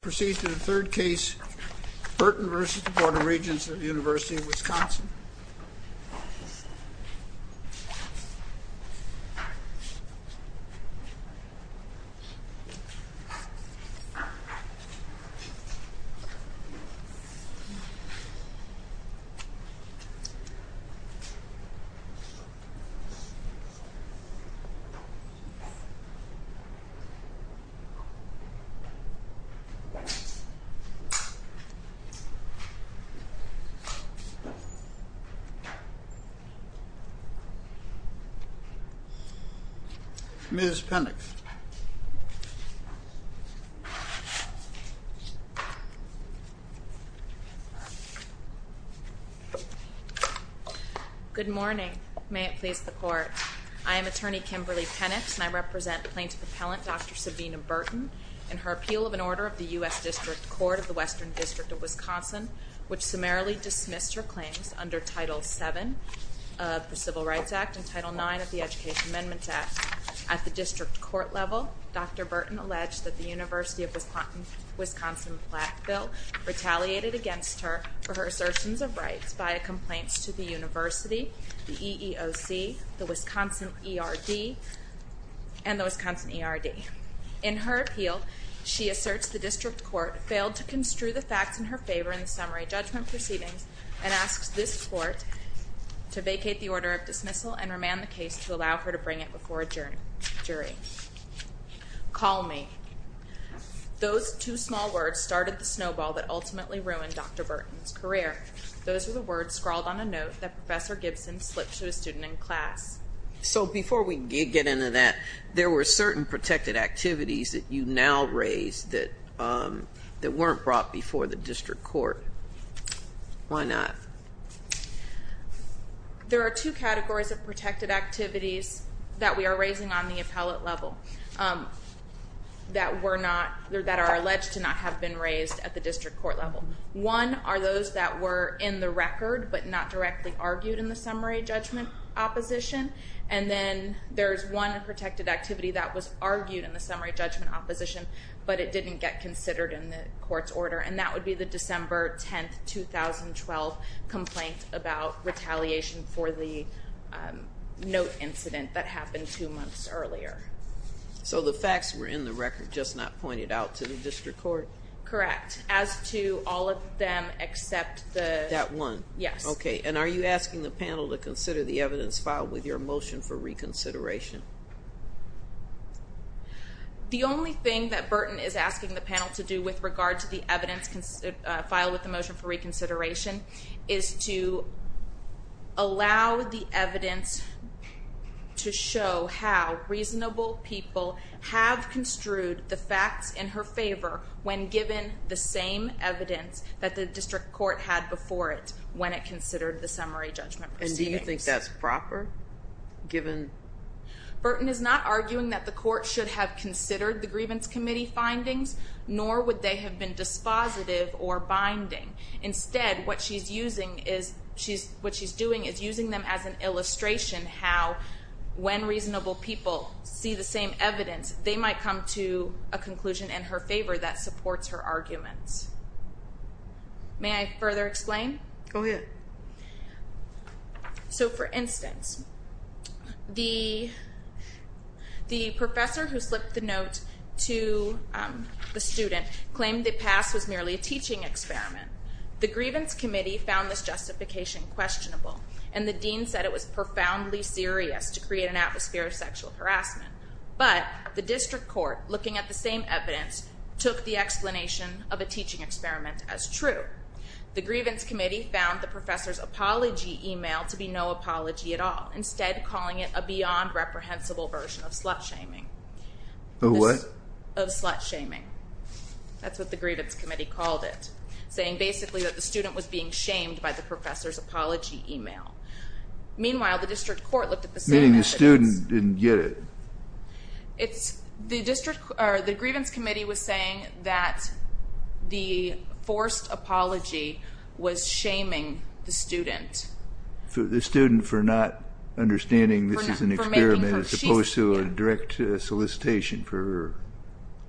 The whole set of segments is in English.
Proceed to the third case, Burton v. Board of Regents of the University of Wisconsin. Ms. Pennix. Good morning. May it please the Court. I am Attorney Kimberly Pennix, and I represent Plaintiff Appellant Dr. Sabina Burton in her appeal of an order of the U.S. District Court of the Western District of Wisconsin, which summarily dismissed her claims under Title VII of the Civil Rights Act and Title IX of the Education Amendments Act. At the District Court level, Dr. Burton alleged that the University of Wisconsin Blackville retaliated against her for her assertions of rights via complaints to the University, the EEOC, the Wisconsin ERD, and the Wisconsin ERD. In her appeal, she asserts the District Court failed to construe the facts in her favor in the summary judgment proceedings and asks this Court to vacate the order of dismissal and remand the case to allow her to bring it before a jury. Call me. Those two small words started the snowball that ultimately ruined Dr. Burton's career. Those were the words scrawled on a note that Professor Gibson slipped to a student in class. So before we get into that, there were certain protected activities that you now raise that weren't brought before the District Court. Why not? There are two categories of protected activities that we are raising on the appellate level that are alleged to not have been raised at the District Court level. One are those that were in the record but not directly argued in the summary judgment opposition. And then there's one protected activity that was argued in the summary judgment opposition, but it didn't get considered in the Court's order. And that would be the December 10, 2012 complaint about retaliation for the note incident that happened two months earlier. So the facts were in the record, just not pointed out to the District Court? Correct, as to all of them except the... That one? Yes. Okay, and are you asking the panel to consider the evidence filed with your motion for reconsideration? The only thing that Burton is asking the panel to do with regard to the evidence filed with the motion for reconsideration is to allow the evidence to show how reasonable people have construed the facts in her favor when given the same evidence that the District Court had before it when it considered the summary judgment proceedings. And do you think that's proper, given... Burton is not arguing that the Court should have considered the Grievance Committee findings, nor would they have been dispositive or binding. Instead, what she's doing is using them as an illustration how, when reasonable people see the same evidence, they might come to a conclusion in her favor that supports her arguments. May I further explain? Go ahead. So, for instance, the professor who slipped the note to the student claimed the pass was merely a teaching experiment. The Grievance Committee found this justification questionable, and the dean said it was profoundly serious to create an atmosphere of sexual harassment. But the District Court, looking at the same evidence, took the explanation of a teaching experiment as true. The Grievance Committee found the professor's apology email to be no apology at all, instead calling it a beyond-reprehensible version of slut-shaming. Of what? Of slut-shaming. That's what the Grievance Committee called it, saying basically that the student was being shamed by the professor's apology email. Meanwhile, the District Court looked at the same evidence... Meaning the student didn't get it. The Grievance Committee was saying that the forced apology was shaming the student. The student for not understanding this is an experiment as opposed to a direct solicitation for...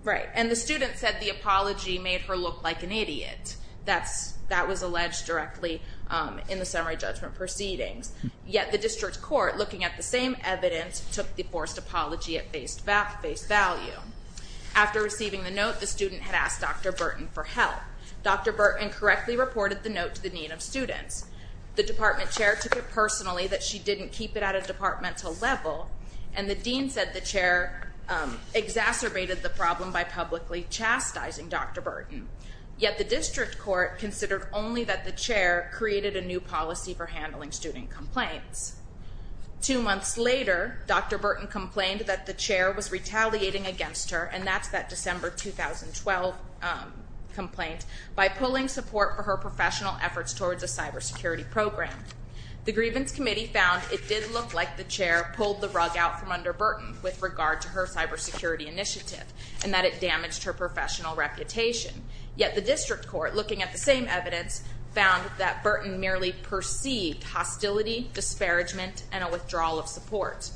Right, and the student said the apology made her look like an idiot. That was alleged directly in the summary judgment proceedings. Yet the District Court, looking at the same evidence, took the forced apology at face value. After receiving the note, the student had asked Dr. Burton for help. Dr. Burton correctly reported the note to the Dean of Students. The department chair took it personally that she didn't keep it at a departmental level, and the dean said the chair exacerbated the problem by publicly chastising Dr. Burton. Yet the District Court considered only that the chair created a new policy for handling student complaints. Two months later, Dr. Burton complained that the chair was retaliating against her, and that's that December 2012 complaint, by pulling support for her professional efforts towards a cybersecurity program. The Grievance Committee found it did look like the chair pulled the rug out from under Burton with regard to her cybersecurity initiative, and that it damaged her professional reputation. Yet the District Court, looking at the same evidence, found that Burton merely perceived hostility, disparagement, and a withdrawal of support.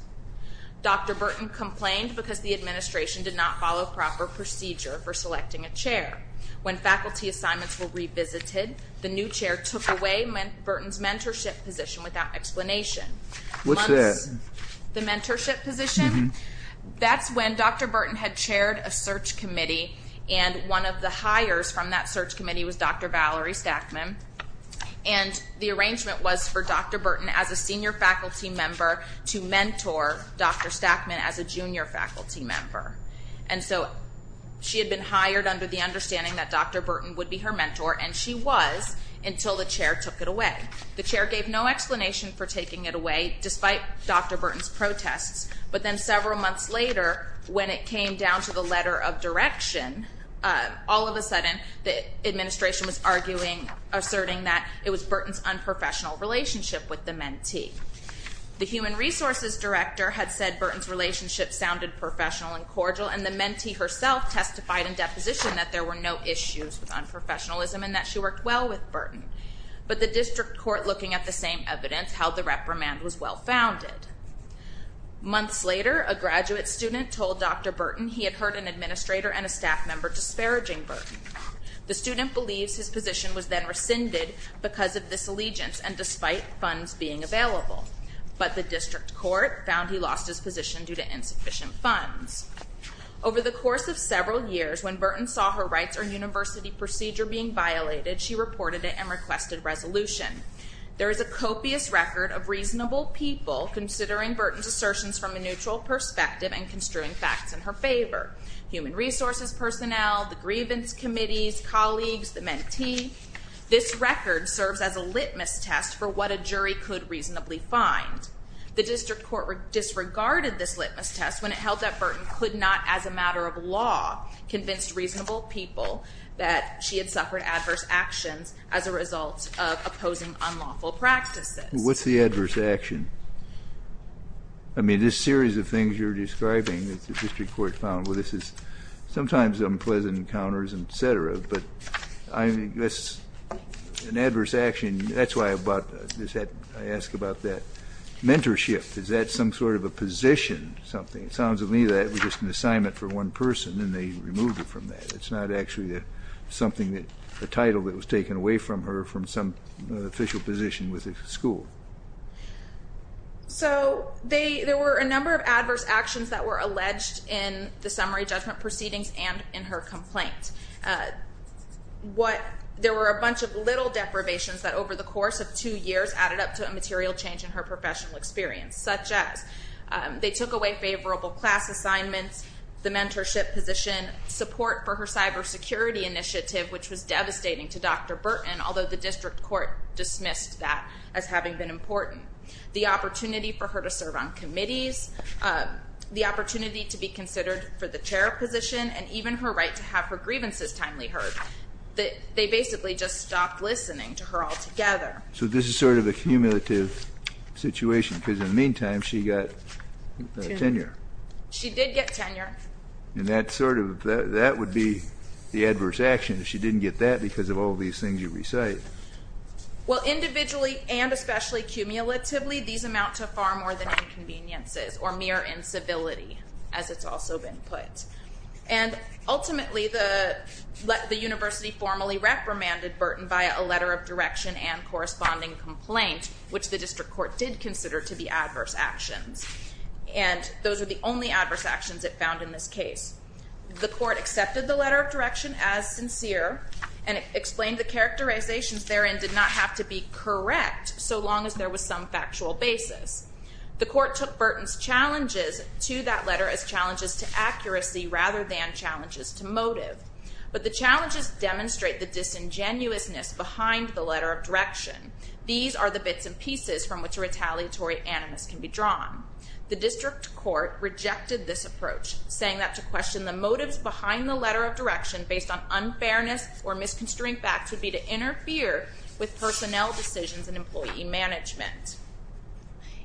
Dr. Burton complained because the administration did not follow proper procedure for selecting a chair. When faculty assignments were revisited, the new chair took away Burton's mentorship position without explanation. What's that? The mentorship position? That's when Dr. Burton had chaired a search committee, and one of the hires from that search committee was Dr. Valerie Stackman. And the arrangement was for Dr. Burton, as a senior faculty member, to mentor Dr. Stackman as a junior faculty member. And so she had been hired under the understanding that Dr. Burton would be her mentor, and she was, until the chair took it away. The chair gave no explanation for taking it away, despite Dr. Burton's protests. But then several months later, when it came down to the letter of direction, all of a sudden the administration was arguing, asserting that it was Burton's unprofessional relationship with the mentee. The human resources director had said Burton's relationship sounded professional and cordial, and the mentee herself testified in deposition that there were no issues with unprofessionalism and that she worked well with Burton. But the district court, looking at the same evidence, held the reprimand was well-founded. Months later, a graduate student told Dr. Burton he had hurt an administrator and a staff member, disparaging Burton. The student believes his position was then rescinded because of disallegiance, and despite funds being available. But the district court found he lost his position due to insufficient funds. Over the course of several years, when Burton saw her rights or university procedure being violated, she reported it and requested resolution. There is a copious record of reasonable people considering Burton's assertions from a neutral perspective and construing facts in her favor. Human resources personnel, the grievance committees, colleagues, the mentee. This record serves as a litmus test for what a jury could reasonably find. The district court disregarded this litmus test when it held that Burton could not, as a matter of law, convince reasonable people that she had suffered adverse actions as a result of opposing unlawful practices. What's the adverse action? I mean, this series of things you're describing that the district court found, well, this is sometimes unpleasant encounters, etc. But I guess an adverse action, that's why I asked about that. Mentorship, is that some sort of a position, something? It sounds to me that it was just an assignment for one person, and they removed it from that. It's not actually something that, a title that was taken away from her from some official position with the school. So there were a number of adverse actions that were alleged in the summary judgment proceedings and in her complaint. There were a bunch of little deprivations that over the course of two years added up to a material change in her professional experience, such as they took away favorable class assignments, the mentorship position, support for her cybersecurity initiative, which was devastating to Dr. Burton, although the district court dismissed that as having been important, the opportunity for her to serve on committees, the opportunity to be considered for the chair position, and even her right to have her grievances timely heard. They basically just stopped listening to her altogether. So this is sort of a cumulative situation, because in the meantime, she got tenure. She did get tenure. And that sort of, that would be the adverse action if she didn't get that because of all these things you recite. Well, individually and especially cumulatively, these amount to far more than inconveniences or mere incivility, as it's also been put. And ultimately, the university formally reprimanded Burton via a letter of direction and corresponding complaint, which the district court did consider to be adverse actions. And those are the only adverse actions it found in this case. The court accepted the letter of direction as sincere and explained the characterizations therein did not have to be correct, so long as there was some factual basis. The court took Burton's challenges to that letter as challenges to accuracy rather than challenges to motive. But the challenges demonstrate the disingenuousness behind the letter of direction. These are the bits and pieces from which a retaliatory animus can be drawn. The district court rejected this approach, saying that to question the motives behind the letter of direction based on unfairness or misconstruing facts would be to interfere with personnel decisions and employee management.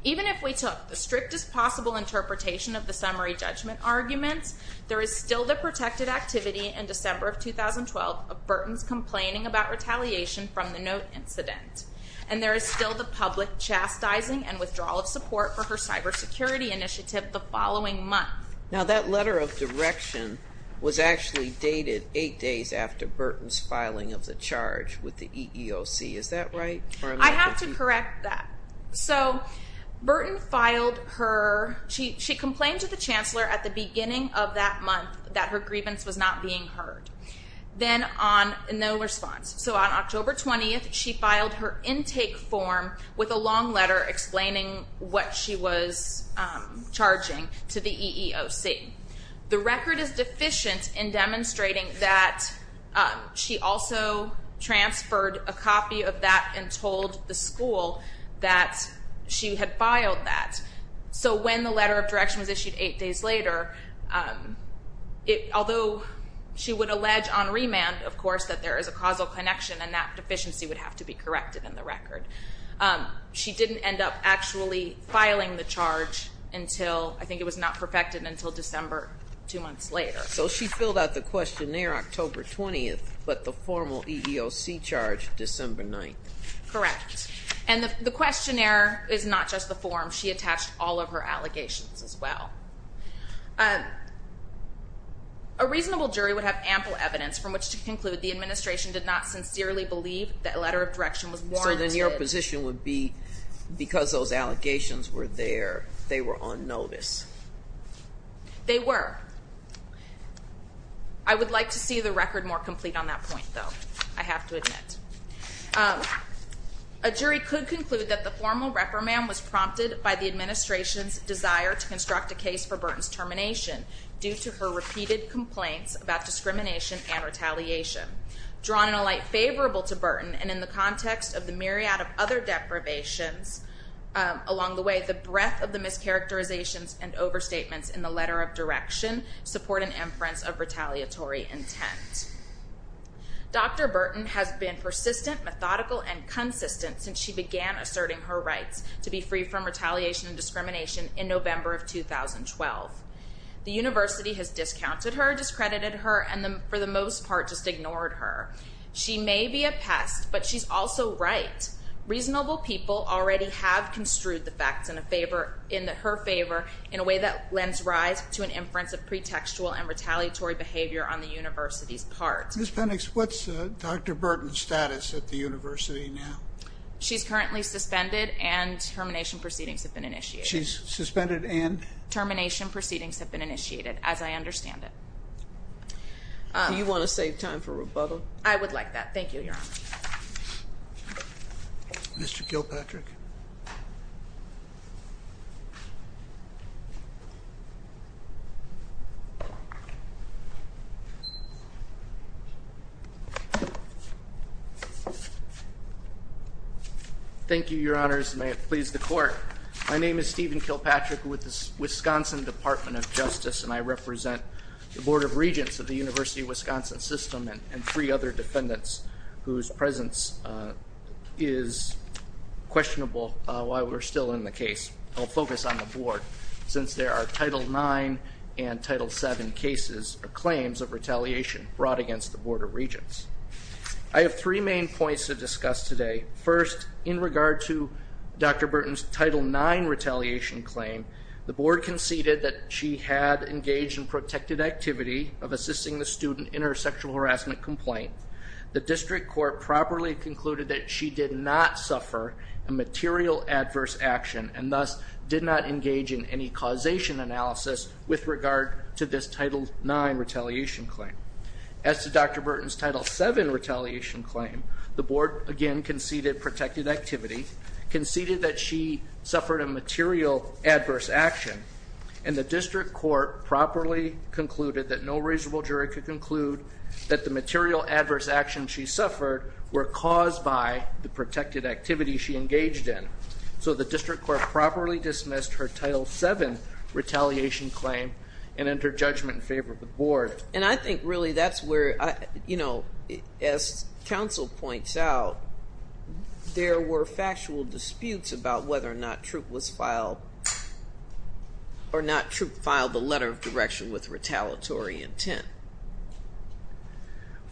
Even if we took the strictest possible interpretation of the summary judgment arguments, there is still the protected activity in December of 2012 of Burton's complaining about retaliation from the note incident. And there is still the public chastising and withdrawal of support for her cybersecurity initiative the following month. Now, that letter of direction was actually dated eight days after Burton's filing of the charge with the EEOC. Is that right? I have to correct that. So, Burton filed her, she complained to the chancellor at the beginning of that month that her grievance was not being heard. Then on no response, so on October 20th, she filed her intake form with a long letter explaining what she was charging to the EEOC. The record is deficient in demonstrating that she also transferred a copy of that and told the school that she had filed that. So when the letter of direction was issued eight days later, although she would allege on remand, of course, that there is a causal connection and that deficiency would have to be corrected in the record. She didn't end up actually filing the charge until, I think it was not perfected until December, two months later. So she filled out the questionnaire October 20th, but the formal EEOC charge December 9th. Correct. And the questionnaire is not just the form. She attached all of her allegations as well. A reasonable jury would have ample evidence from which to conclude the administration did not sincerely believe that letter of direction was warranted. So then your position would be because those allegations were there, they were on notice. They were. I would like to see the record more complete on that point, though. I have to admit. A jury could conclude that the formal reprimand was prompted by the administration's desire to construct a case for Burton's termination due to her repeated complaints about discrimination and retaliation. Drawn in a light favorable to Burton and in the context of the myriad of other deprivations along the way, the breadth of the mischaracterizations and overstatements in the letter of direction support an inference of retaliatory intent. Dr. Burton has been persistent, methodical, and consistent since she began asserting her rights to be free from retaliation and discrimination in November of 2012. The university has discounted her, discredited her, and for the most part just ignored her. She may be a pest, but she's also right. Reasonable people already have construed the facts in her favor in a way that lends rise to an inference of pretextual and retaliatory behavior on the university's part. Ms. Penix, what's Dr. Burton's status at the university now? She's currently suspended and termination proceedings have been initiated. She's suspended and? Termination proceedings have been initiated, as I understand it. Do you want to save time for rebuttal? I would like that. Thank you, Your Honor. Mr. Kilpatrick. Thank you, Your Honors. May it please the court. My name is Stephen Kilpatrick with the Wisconsin Department of Justice, and I represent the Board of Regents of the University of Wisconsin System and three other defendants whose presence is questionable to me. While we're still in the case, I'll focus on the board since there are Title IX and Title VII cases or claims of retaliation brought against the Board of Regents. I have three main points to discuss today. First, in regard to Dr. Burton's Title IX retaliation claim, the board conceded that she had engaged in protected activity of assisting the student in her sexual harassment complaint. The district court properly concluded that she did not suffer a material adverse action and thus did not engage in any causation analysis with regard to this Title IX retaliation claim. As to Dr. Burton's Title VII retaliation claim, the board again conceded protected activity, conceded that she suffered a material adverse action, and the district court properly concluded that no reasonable jury could conclude that the material adverse actions she suffered were caused by the protected activity she engaged in. So the district court properly dismissed her Title VII retaliation claim and entered judgment in favor of the board. And I think really that's where, you know, as counsel points out, there were factual disputes about whether or not Troup filed the letter of direction with retaliatory intent.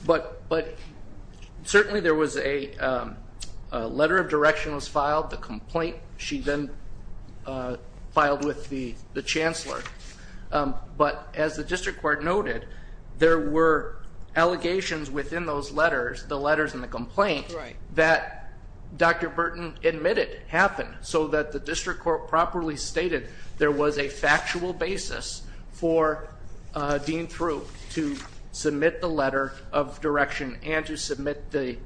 But certainly there was a letter of direction was filed, the complaint she then filed with the chancellor. But as the district court noted, there were allegations within those letters, the letters and the complaint, that Dr. Burton admitted happened. So that the district court properly stated there was a factual basis for Dean Troup to submit the letter of direction and to submit the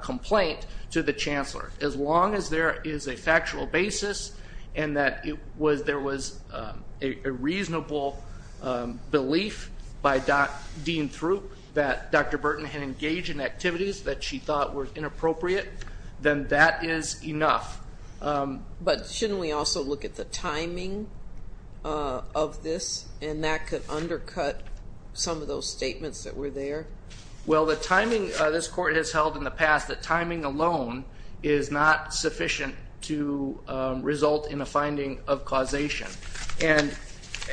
complaint to the chancellor. As long as there is a factual basis and that there was a reasonable belief by Dean Troup that Dr. Burton had engaged in activities that she thought were inappropriate, then that is enough. But shouldn't we also look at the timing of this and that could undercut some of those statements that were there? Well, the timing, this court has held in the past that timing alone is not sufficient to result in a finding of causation. And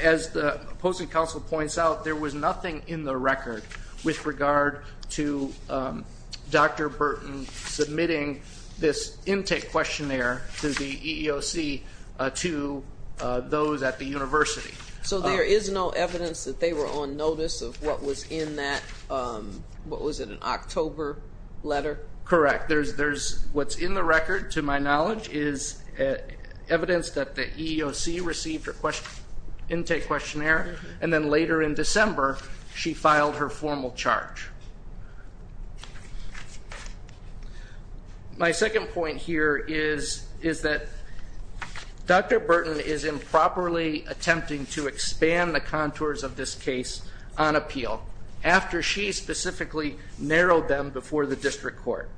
as the opposing counsel points out, there was nothing in the record with regard to Dr. Burton submitting this intake questionnaire to the EEOC to those at the university. So there is no evidence that they were on notice of what was in that, what was it, an October letter? Correct. What's in the record, to my knowledge, is evidence that the EEOC received her intake questionnaire. And then later in December, she filed her formal charge. My second point here is that Dr. Burton is improperly attempting to expand the contours of this case on appeal after she specifically narrowed them before the district court.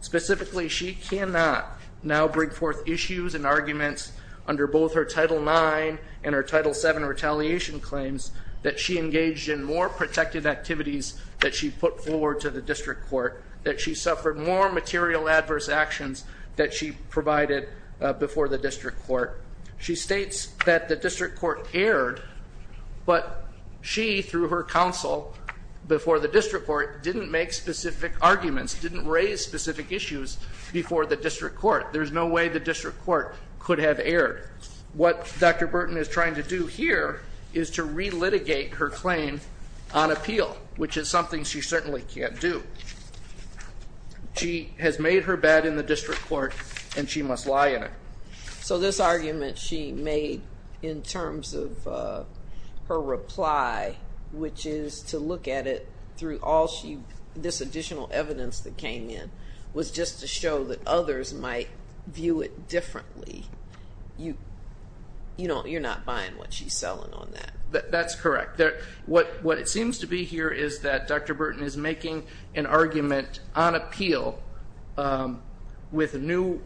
Specifically, she cannot now bring forth issues and arguments under both her Title IX and her Title VII retaliation claims that she engaged in more protected activities that she put forward to the district court, that she suffered more material adverse actions that she provided before the district court. She states that the district court erred, but she, through her counsel before the district court, didn't make specific arguments, didn't raise specific issues before the district court. There's no way the district court could have erred. What Dr. Burton is trying to do here is to relitigate her claim on appeal, which is something she certainly can't do. She has made her bed in the district court, and she must lie in it. So this argument she made in terms of her reply, which is to look at it through all this additional evidence that came in, was just to show that others might view it differently. You're not buying what she's selling on that. That's correct. What it seems to be here is that Dr. Burton is making an argument on appeal with new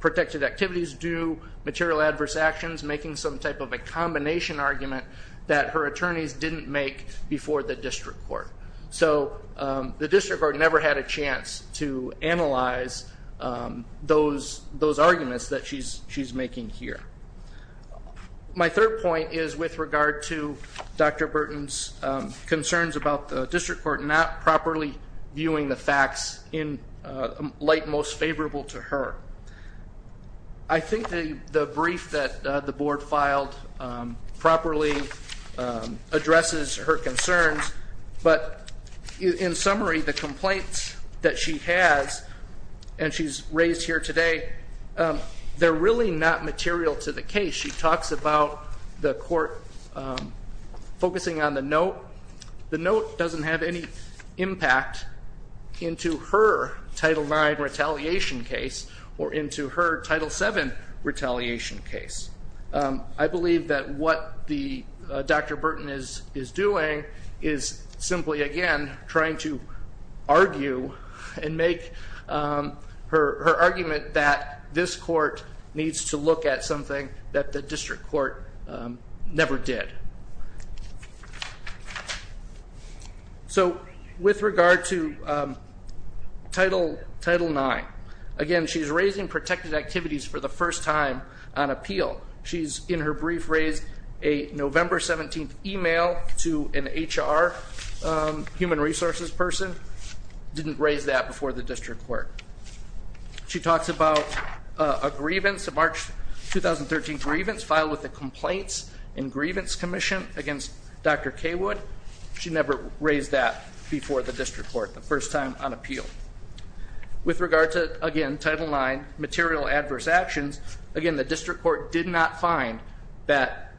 protected activities due, material adverse actions, making some type of a combination argument that her attorneys didn't make before the district court. So the district court never had a chance to analyze those arguments that she's making here. My third point is with regard to Dr. Burton's concerns about the district court not properly viewing the facts in light most favorable to her. I think the brief that the board filed properly addresses her concerns. But in summary, the complaints that she has and she's raised here today, they're really not material to the case. She talks about the court focusing on the note. The note doesn't have any impact into her Title IX retaliation case or into her Title VII retaliation case. I believe that what Dr. Burton is doing is simply, again, trying to argue and make her argument that this court needs to look at something that the district court never did. So with regard to Title IX, again, she's raising protected activities for the first time on appeal. She's, in her brief, raised a November 17th email to an HR human resources person. Didn't raise that before the district court. She talks about a grievance, a March 2013 grievance filed with the Complaints and Grievance Commission against Dr. Cawood. She never raised that before the district court, the first time on appeal. With regard to, again, Title IX material adverse actions, again, the district court did not find that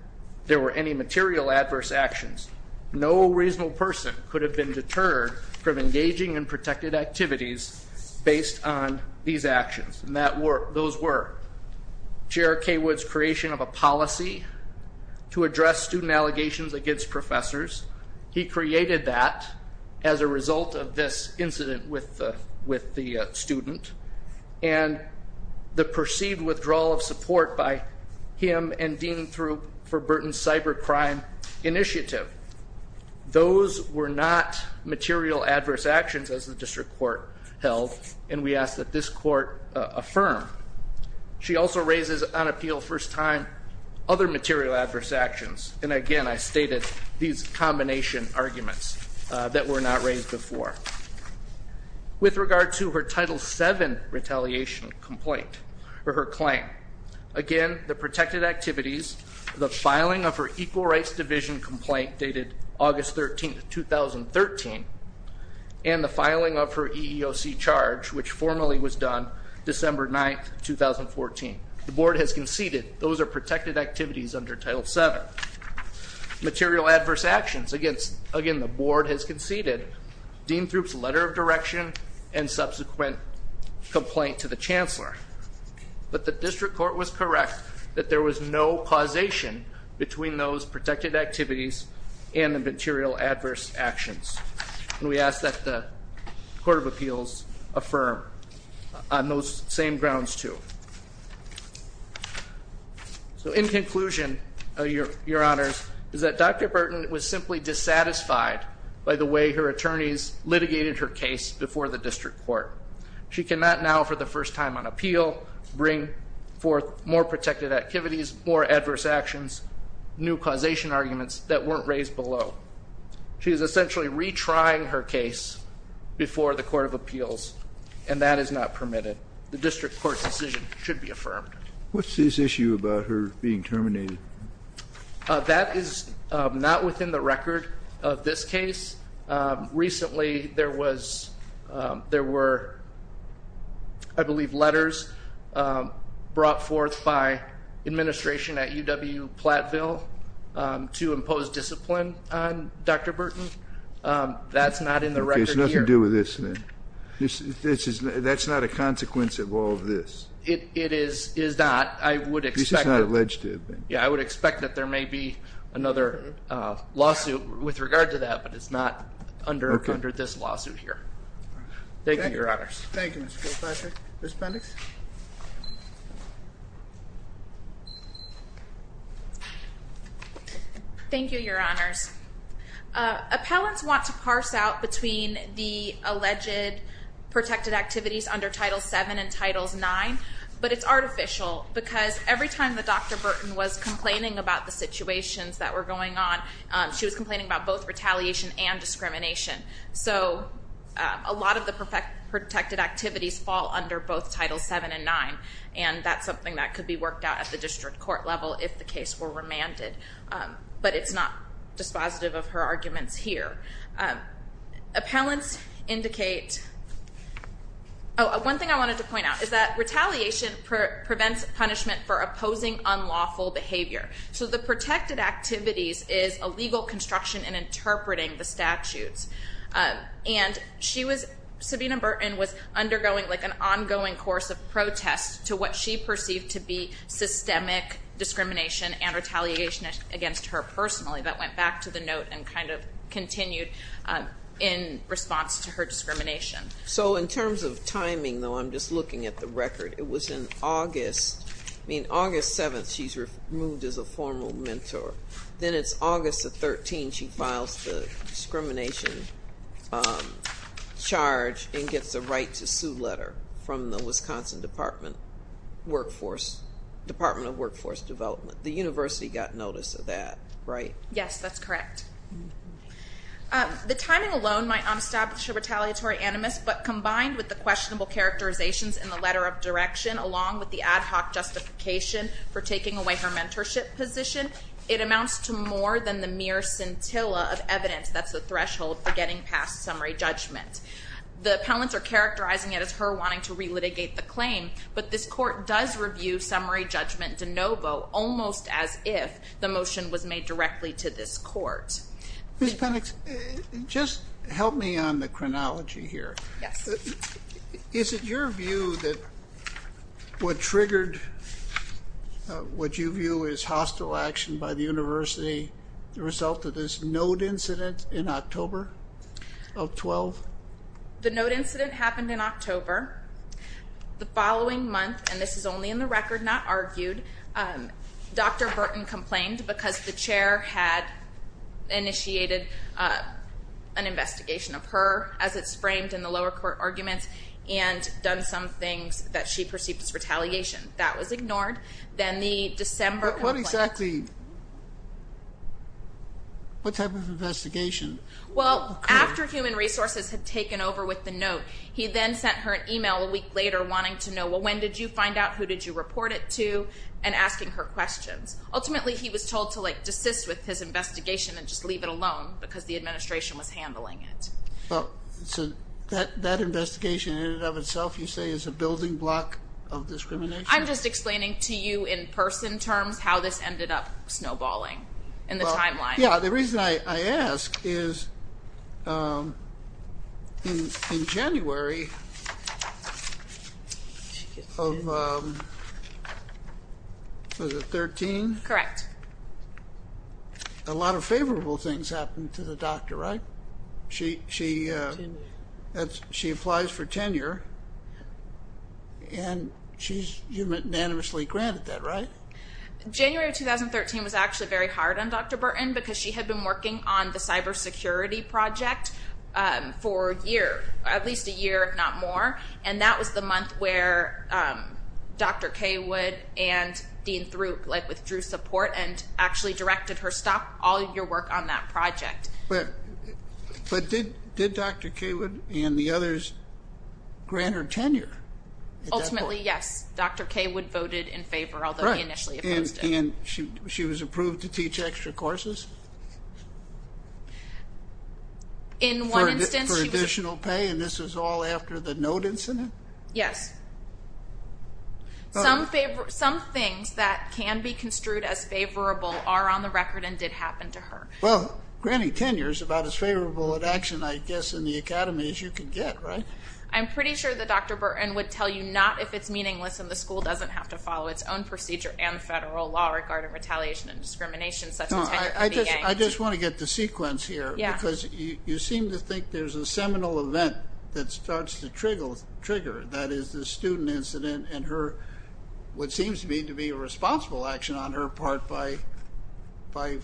there were any material adverse actions. No reasonable person could have been deterred from engaging in protected activities based on these actions. And those were Chair Cawood's creation of a policy to address student allegations against professors. He created that as a result of this incident with the student. And the perceived withdrawal of support by him and Dean for Burton's cyber crime initiative. Those were not material adverse actions as the district court held, and we ask that this court affirm. She also raises on appeal first time other material adverse actions. And again, I stated these combination arguments that were not raised before. With regard to her Title VII retaliation complaint, or her claim. Again, the protected activities, the filing of her equal rights division complaint dated August 13th, 2013. And the filing of her EEOC charge, which formally was done December 9th, 2014. The board has conceded those are protected activities under Title VII. Material adverse actions. Again, the board has conceded Dean Throop's letter of direction and subsequent complaint to the chancellor. But the district court was correct that there was no causation between those protected activities and the material adverse actions. And we ask that the Court of Appeals affirm on those same grounds too. So in conclusion, your honors, is that Dr. Burton was simply dissatisfied by the way her attorneys litigated her case before the district court. She cannot now, for the first time on appeal, bring forth more protected activities, more adverse actions, new causation arguments that weren't raised below. She is essentially retrying her case before the Court of Appeals, and that is not permitted. The district court's decision should be affirmed. What's his issue about her being terminated? That is not within the record of this case. Recently, there were, I believe, letters brought forth by administration at UW-Platteville to impose discipline on Dr. Burton. That's not in the record here. That's not a consequence of all of this? It is not. This is not alleged to have been. Yeah, I would expect that there may be another lawsuit with regard to that, but it's not under this lawsuit here. Thank you, your honors. Thank you, Mr. Kilpatrick. Ms. Pendix? Thank you, your honors. Appellants want to parse out between the alleged protected activities under Title VII and Title IX, but it's artificial because every time that Dr. Burton was complaining about the situations that were going on, she was complaining about both retaliation and discrimination. So a lot of the protected activities fall under both Title VII and IX, and that's something that could be worked out at the district court level if the case were remanded. But it's not dispositive of her arguments here. Appellants indicate one thing I wanted to point out is that retaliation prevents punishment for opposing unlawful behavior. So the protected activities is a legal construction in interpreting the statutes. And she was, Sabina Burton was undergoing like an ongoing course of protest to what she perceived to be systemic discrimination and retaliation against her personally, but went back to the note and kind of continued in response to her discrimination. So in terms of timing, though, I'm just looking at the record. It was in August. I mean, August 7th, she's removed as a formal mentor. Then it's August the 13th she files the discrimination charge and gets a right to sue letter from the Wisconsin Department of Workforce Development. The university got notice of that, right? Yes, that's correct. The timing alone might not establish a retaliatory animus, but combined with the questionable characterizations in the letter of direction, along with the ad hoc justification for taking away her mentorship position, it amounts to more than the mere scintilla of evidence that's the threshold for getting past summary judgment. The appellants are characterizing it as her wanting to relitigate the claim, but this court does review summary judgment de novo almost as if the motion was made directly to this court. Ms. Penix, just help me on the chronology here. Yes. Is it your view that what triggered what you view as hostile action by the university, the result of this note incident in October of 12? The note incident happened in October. The following month, and this is only in the record, not argued, Dr. Burton complained because the chair had initiated an investigation of her as it's framed in the lower court arguments and done some things that she perceived as retaliation. That was ignored. Then the December complaint. What exactly, what type of investigation? Well, after Human Resources had taken over with the note, he then sent her an email a week later wanting to know, well, when did you find out? Who did you report it to? And asking her questions. Ultimately, he was told to like desist with his investigation and just leave it alone because the administration was handling it. So that investigation in and of itself, you say, is a building block of discrimination? I'm just explaining to you in person terms how this ended up snowballing in the timeline. Yeah. The reason I ask is in January of, was it 13? Correct. A lot of favorable things happened to the doctor, right? She applies for tenure, and you unanimously granted that, right? January of 2013 was actually very hard on Dr. Burton because she had been working on the cybersecurity project for a year, at least a year if not more, and that was the month where Dr. Cawood and Dean Throop withdrew support and actually directed her, stop all your work on that project. But did Dr. Cawood and the others grant her tenure? Ultimately, yes. Dr. Cawood voted in favor, although he initially opposed it. And she was approved to teach extra courses? In one instance. For additional pay, and this is all after the note incident? Yes. Some things that can be construed as favorable are on the record and did happen to her. Well, granting tenure is about as favorable an action, I guess, in the academy as you can get, right? I'm pretty sure that Dr. Burton would tell you not if it's meaningless and the school doesn't have to follow its own procedure and federal law regarding retaliation and discrimination such as tenure. I just want to get the sequence here. Because you seem to think there's a seminal event that starts to trigger, that is the student incident and what seems to me to be a responsible action on her part by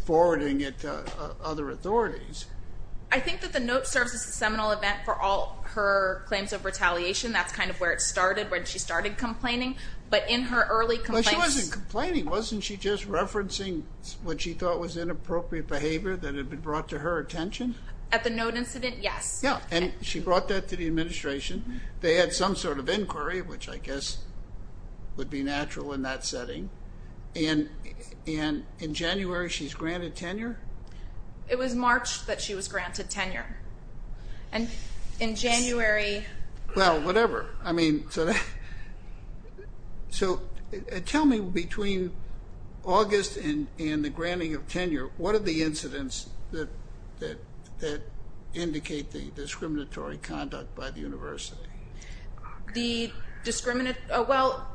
forwarding it to other authorities. I think that the note serves as a seminal event for all her claims of retaliation. That's kind of where it started when she started complaining. But in her early complaints – Well, she wasn't complaining. Wasn't she just referencing what she thought was inappropriate behavior that had been brought to her attention? At the note incident, yes. Yeah, and she brought that to the administration. They had some sort of inquiry, which I guess would be natural in that setting. And in January, she's granted tenure? It was March that she was granted tenure. And in January – Well, whatever. I mean, so tell me between August and the granting of tenure, what are the incidents that indicate the discriminatory conduct by the university? Well,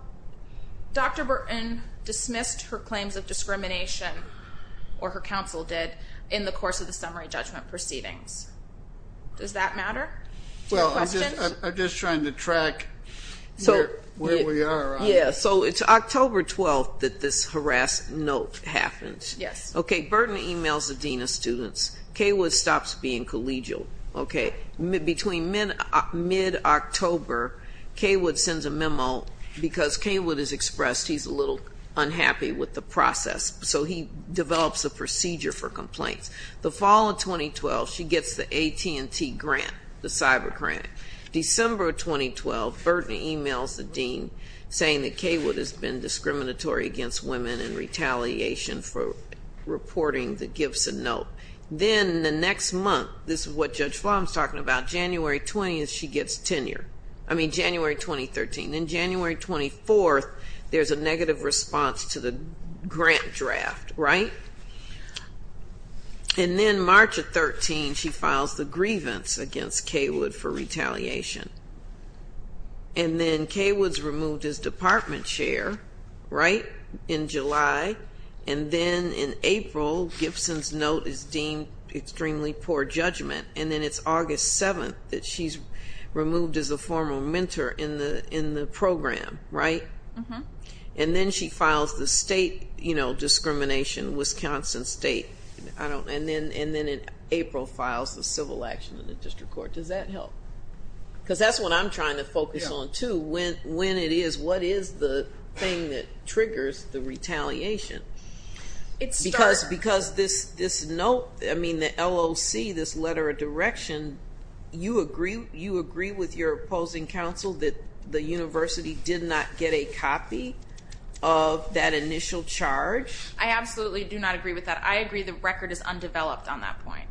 Dr. Burton dismissed her claims of discrimination, or her counsel did, in the course of the summary judgment proceedings. Does that matter? Well, I'm just trying to track where we are on this. Yeah, so it's October 12th that this harass note happens. Yes. Okay, Burton emails the dean of students. K. Wood stops being collegial. Okay, between mid-October, K. Wood sends a memo because K. Wood has expressed he's a little unhappy with the process, so he develops a procedure for complaints. The fall of 2012, she gets the AT&T grant, the cyber grant. December of 2012, Burton emails the dean, saying that K. Wood has been discriminatory against women in retaliation for reporting the Gibson note. Then the next month, this is what Judge Flom is talking about, January 20th, she gets tenure. I mean, January 2013. Then January 24th, there's a negative response to the grant draft, right? And then March of 2013, she files the grievance against K. Wood for retaliation. And then K. Wood is removed as department chair, right, in July. And then in April, Gibson's note is deemed extremely poor judgment. And then it's August 7th that she's removed as a former mentor in the program, right? And then she files the state discrimination, Wisconsin State. And then in April, files the civil action in the district court. Does that help? Because that's what I'm trying to focus on, too, when it is. What is the thing that triggers the retaliation? Because this note, I mean, the LOC, this letter of direction, you agree with your opposing counsel that the university did not get a copy of that initial charge? I absolutely do not agree with that. I agree the record is undeveloped on that point.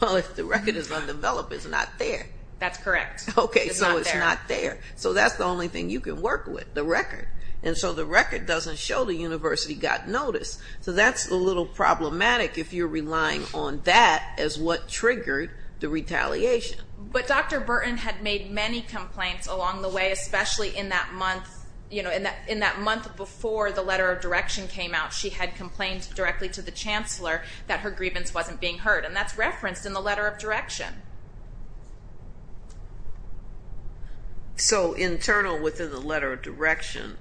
Well, if the record is undeveloped, it's not there. That's correct. Okay, so it's not there. So that's the only thing you can work with, the record. And so the record doesn't show the university got notice. So that's a little problematic if you're relying on that as what triggered the retaliation. But Dr. Burton had made many complaints along the way, especially in that month before the letter of direction came out. She had complained directly to the chancellor that her grievance wasn't being heard. And that's referenced in the letter of direction. So internal within the letter of direction,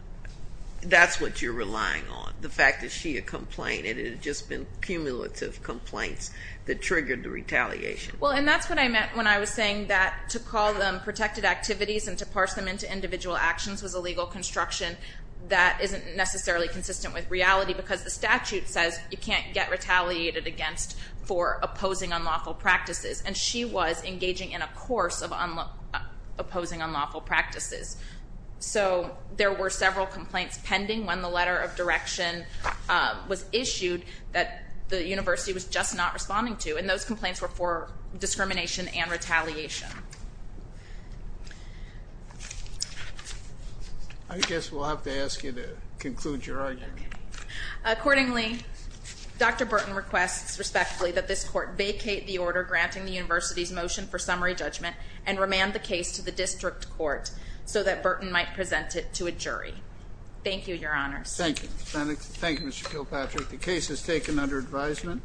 that's what you're relying on, the fact that she had complained, and it had just been cumulative complaints that triggered the retaliation. Well, and that's what I meant when I was saying that to call them protected activities and to parse them into individual actions was a legal construction that isn't necessarily consistent with reality, because the statute says you can't get retaliated against for opposing unlawful practices. And she was engaging in a course of opposing unlawful practices. So there were several complaints pending when the letter of direction was issued that the university was just not responding to, and those complaints were for discrimination and retaliation. I guess we'll have to ask you to conclude your argument. Okay. Accordingly, Dr. Burton requests respectfully that this court vacate the order granting the university's motion for summary judgment and remand the case to the district court so that Burton might present it to a jury. Thank you, Your Honors. Thank you, Ms. Benick. Thank you, Mr. Kilpatrick. The case is taken under advisement.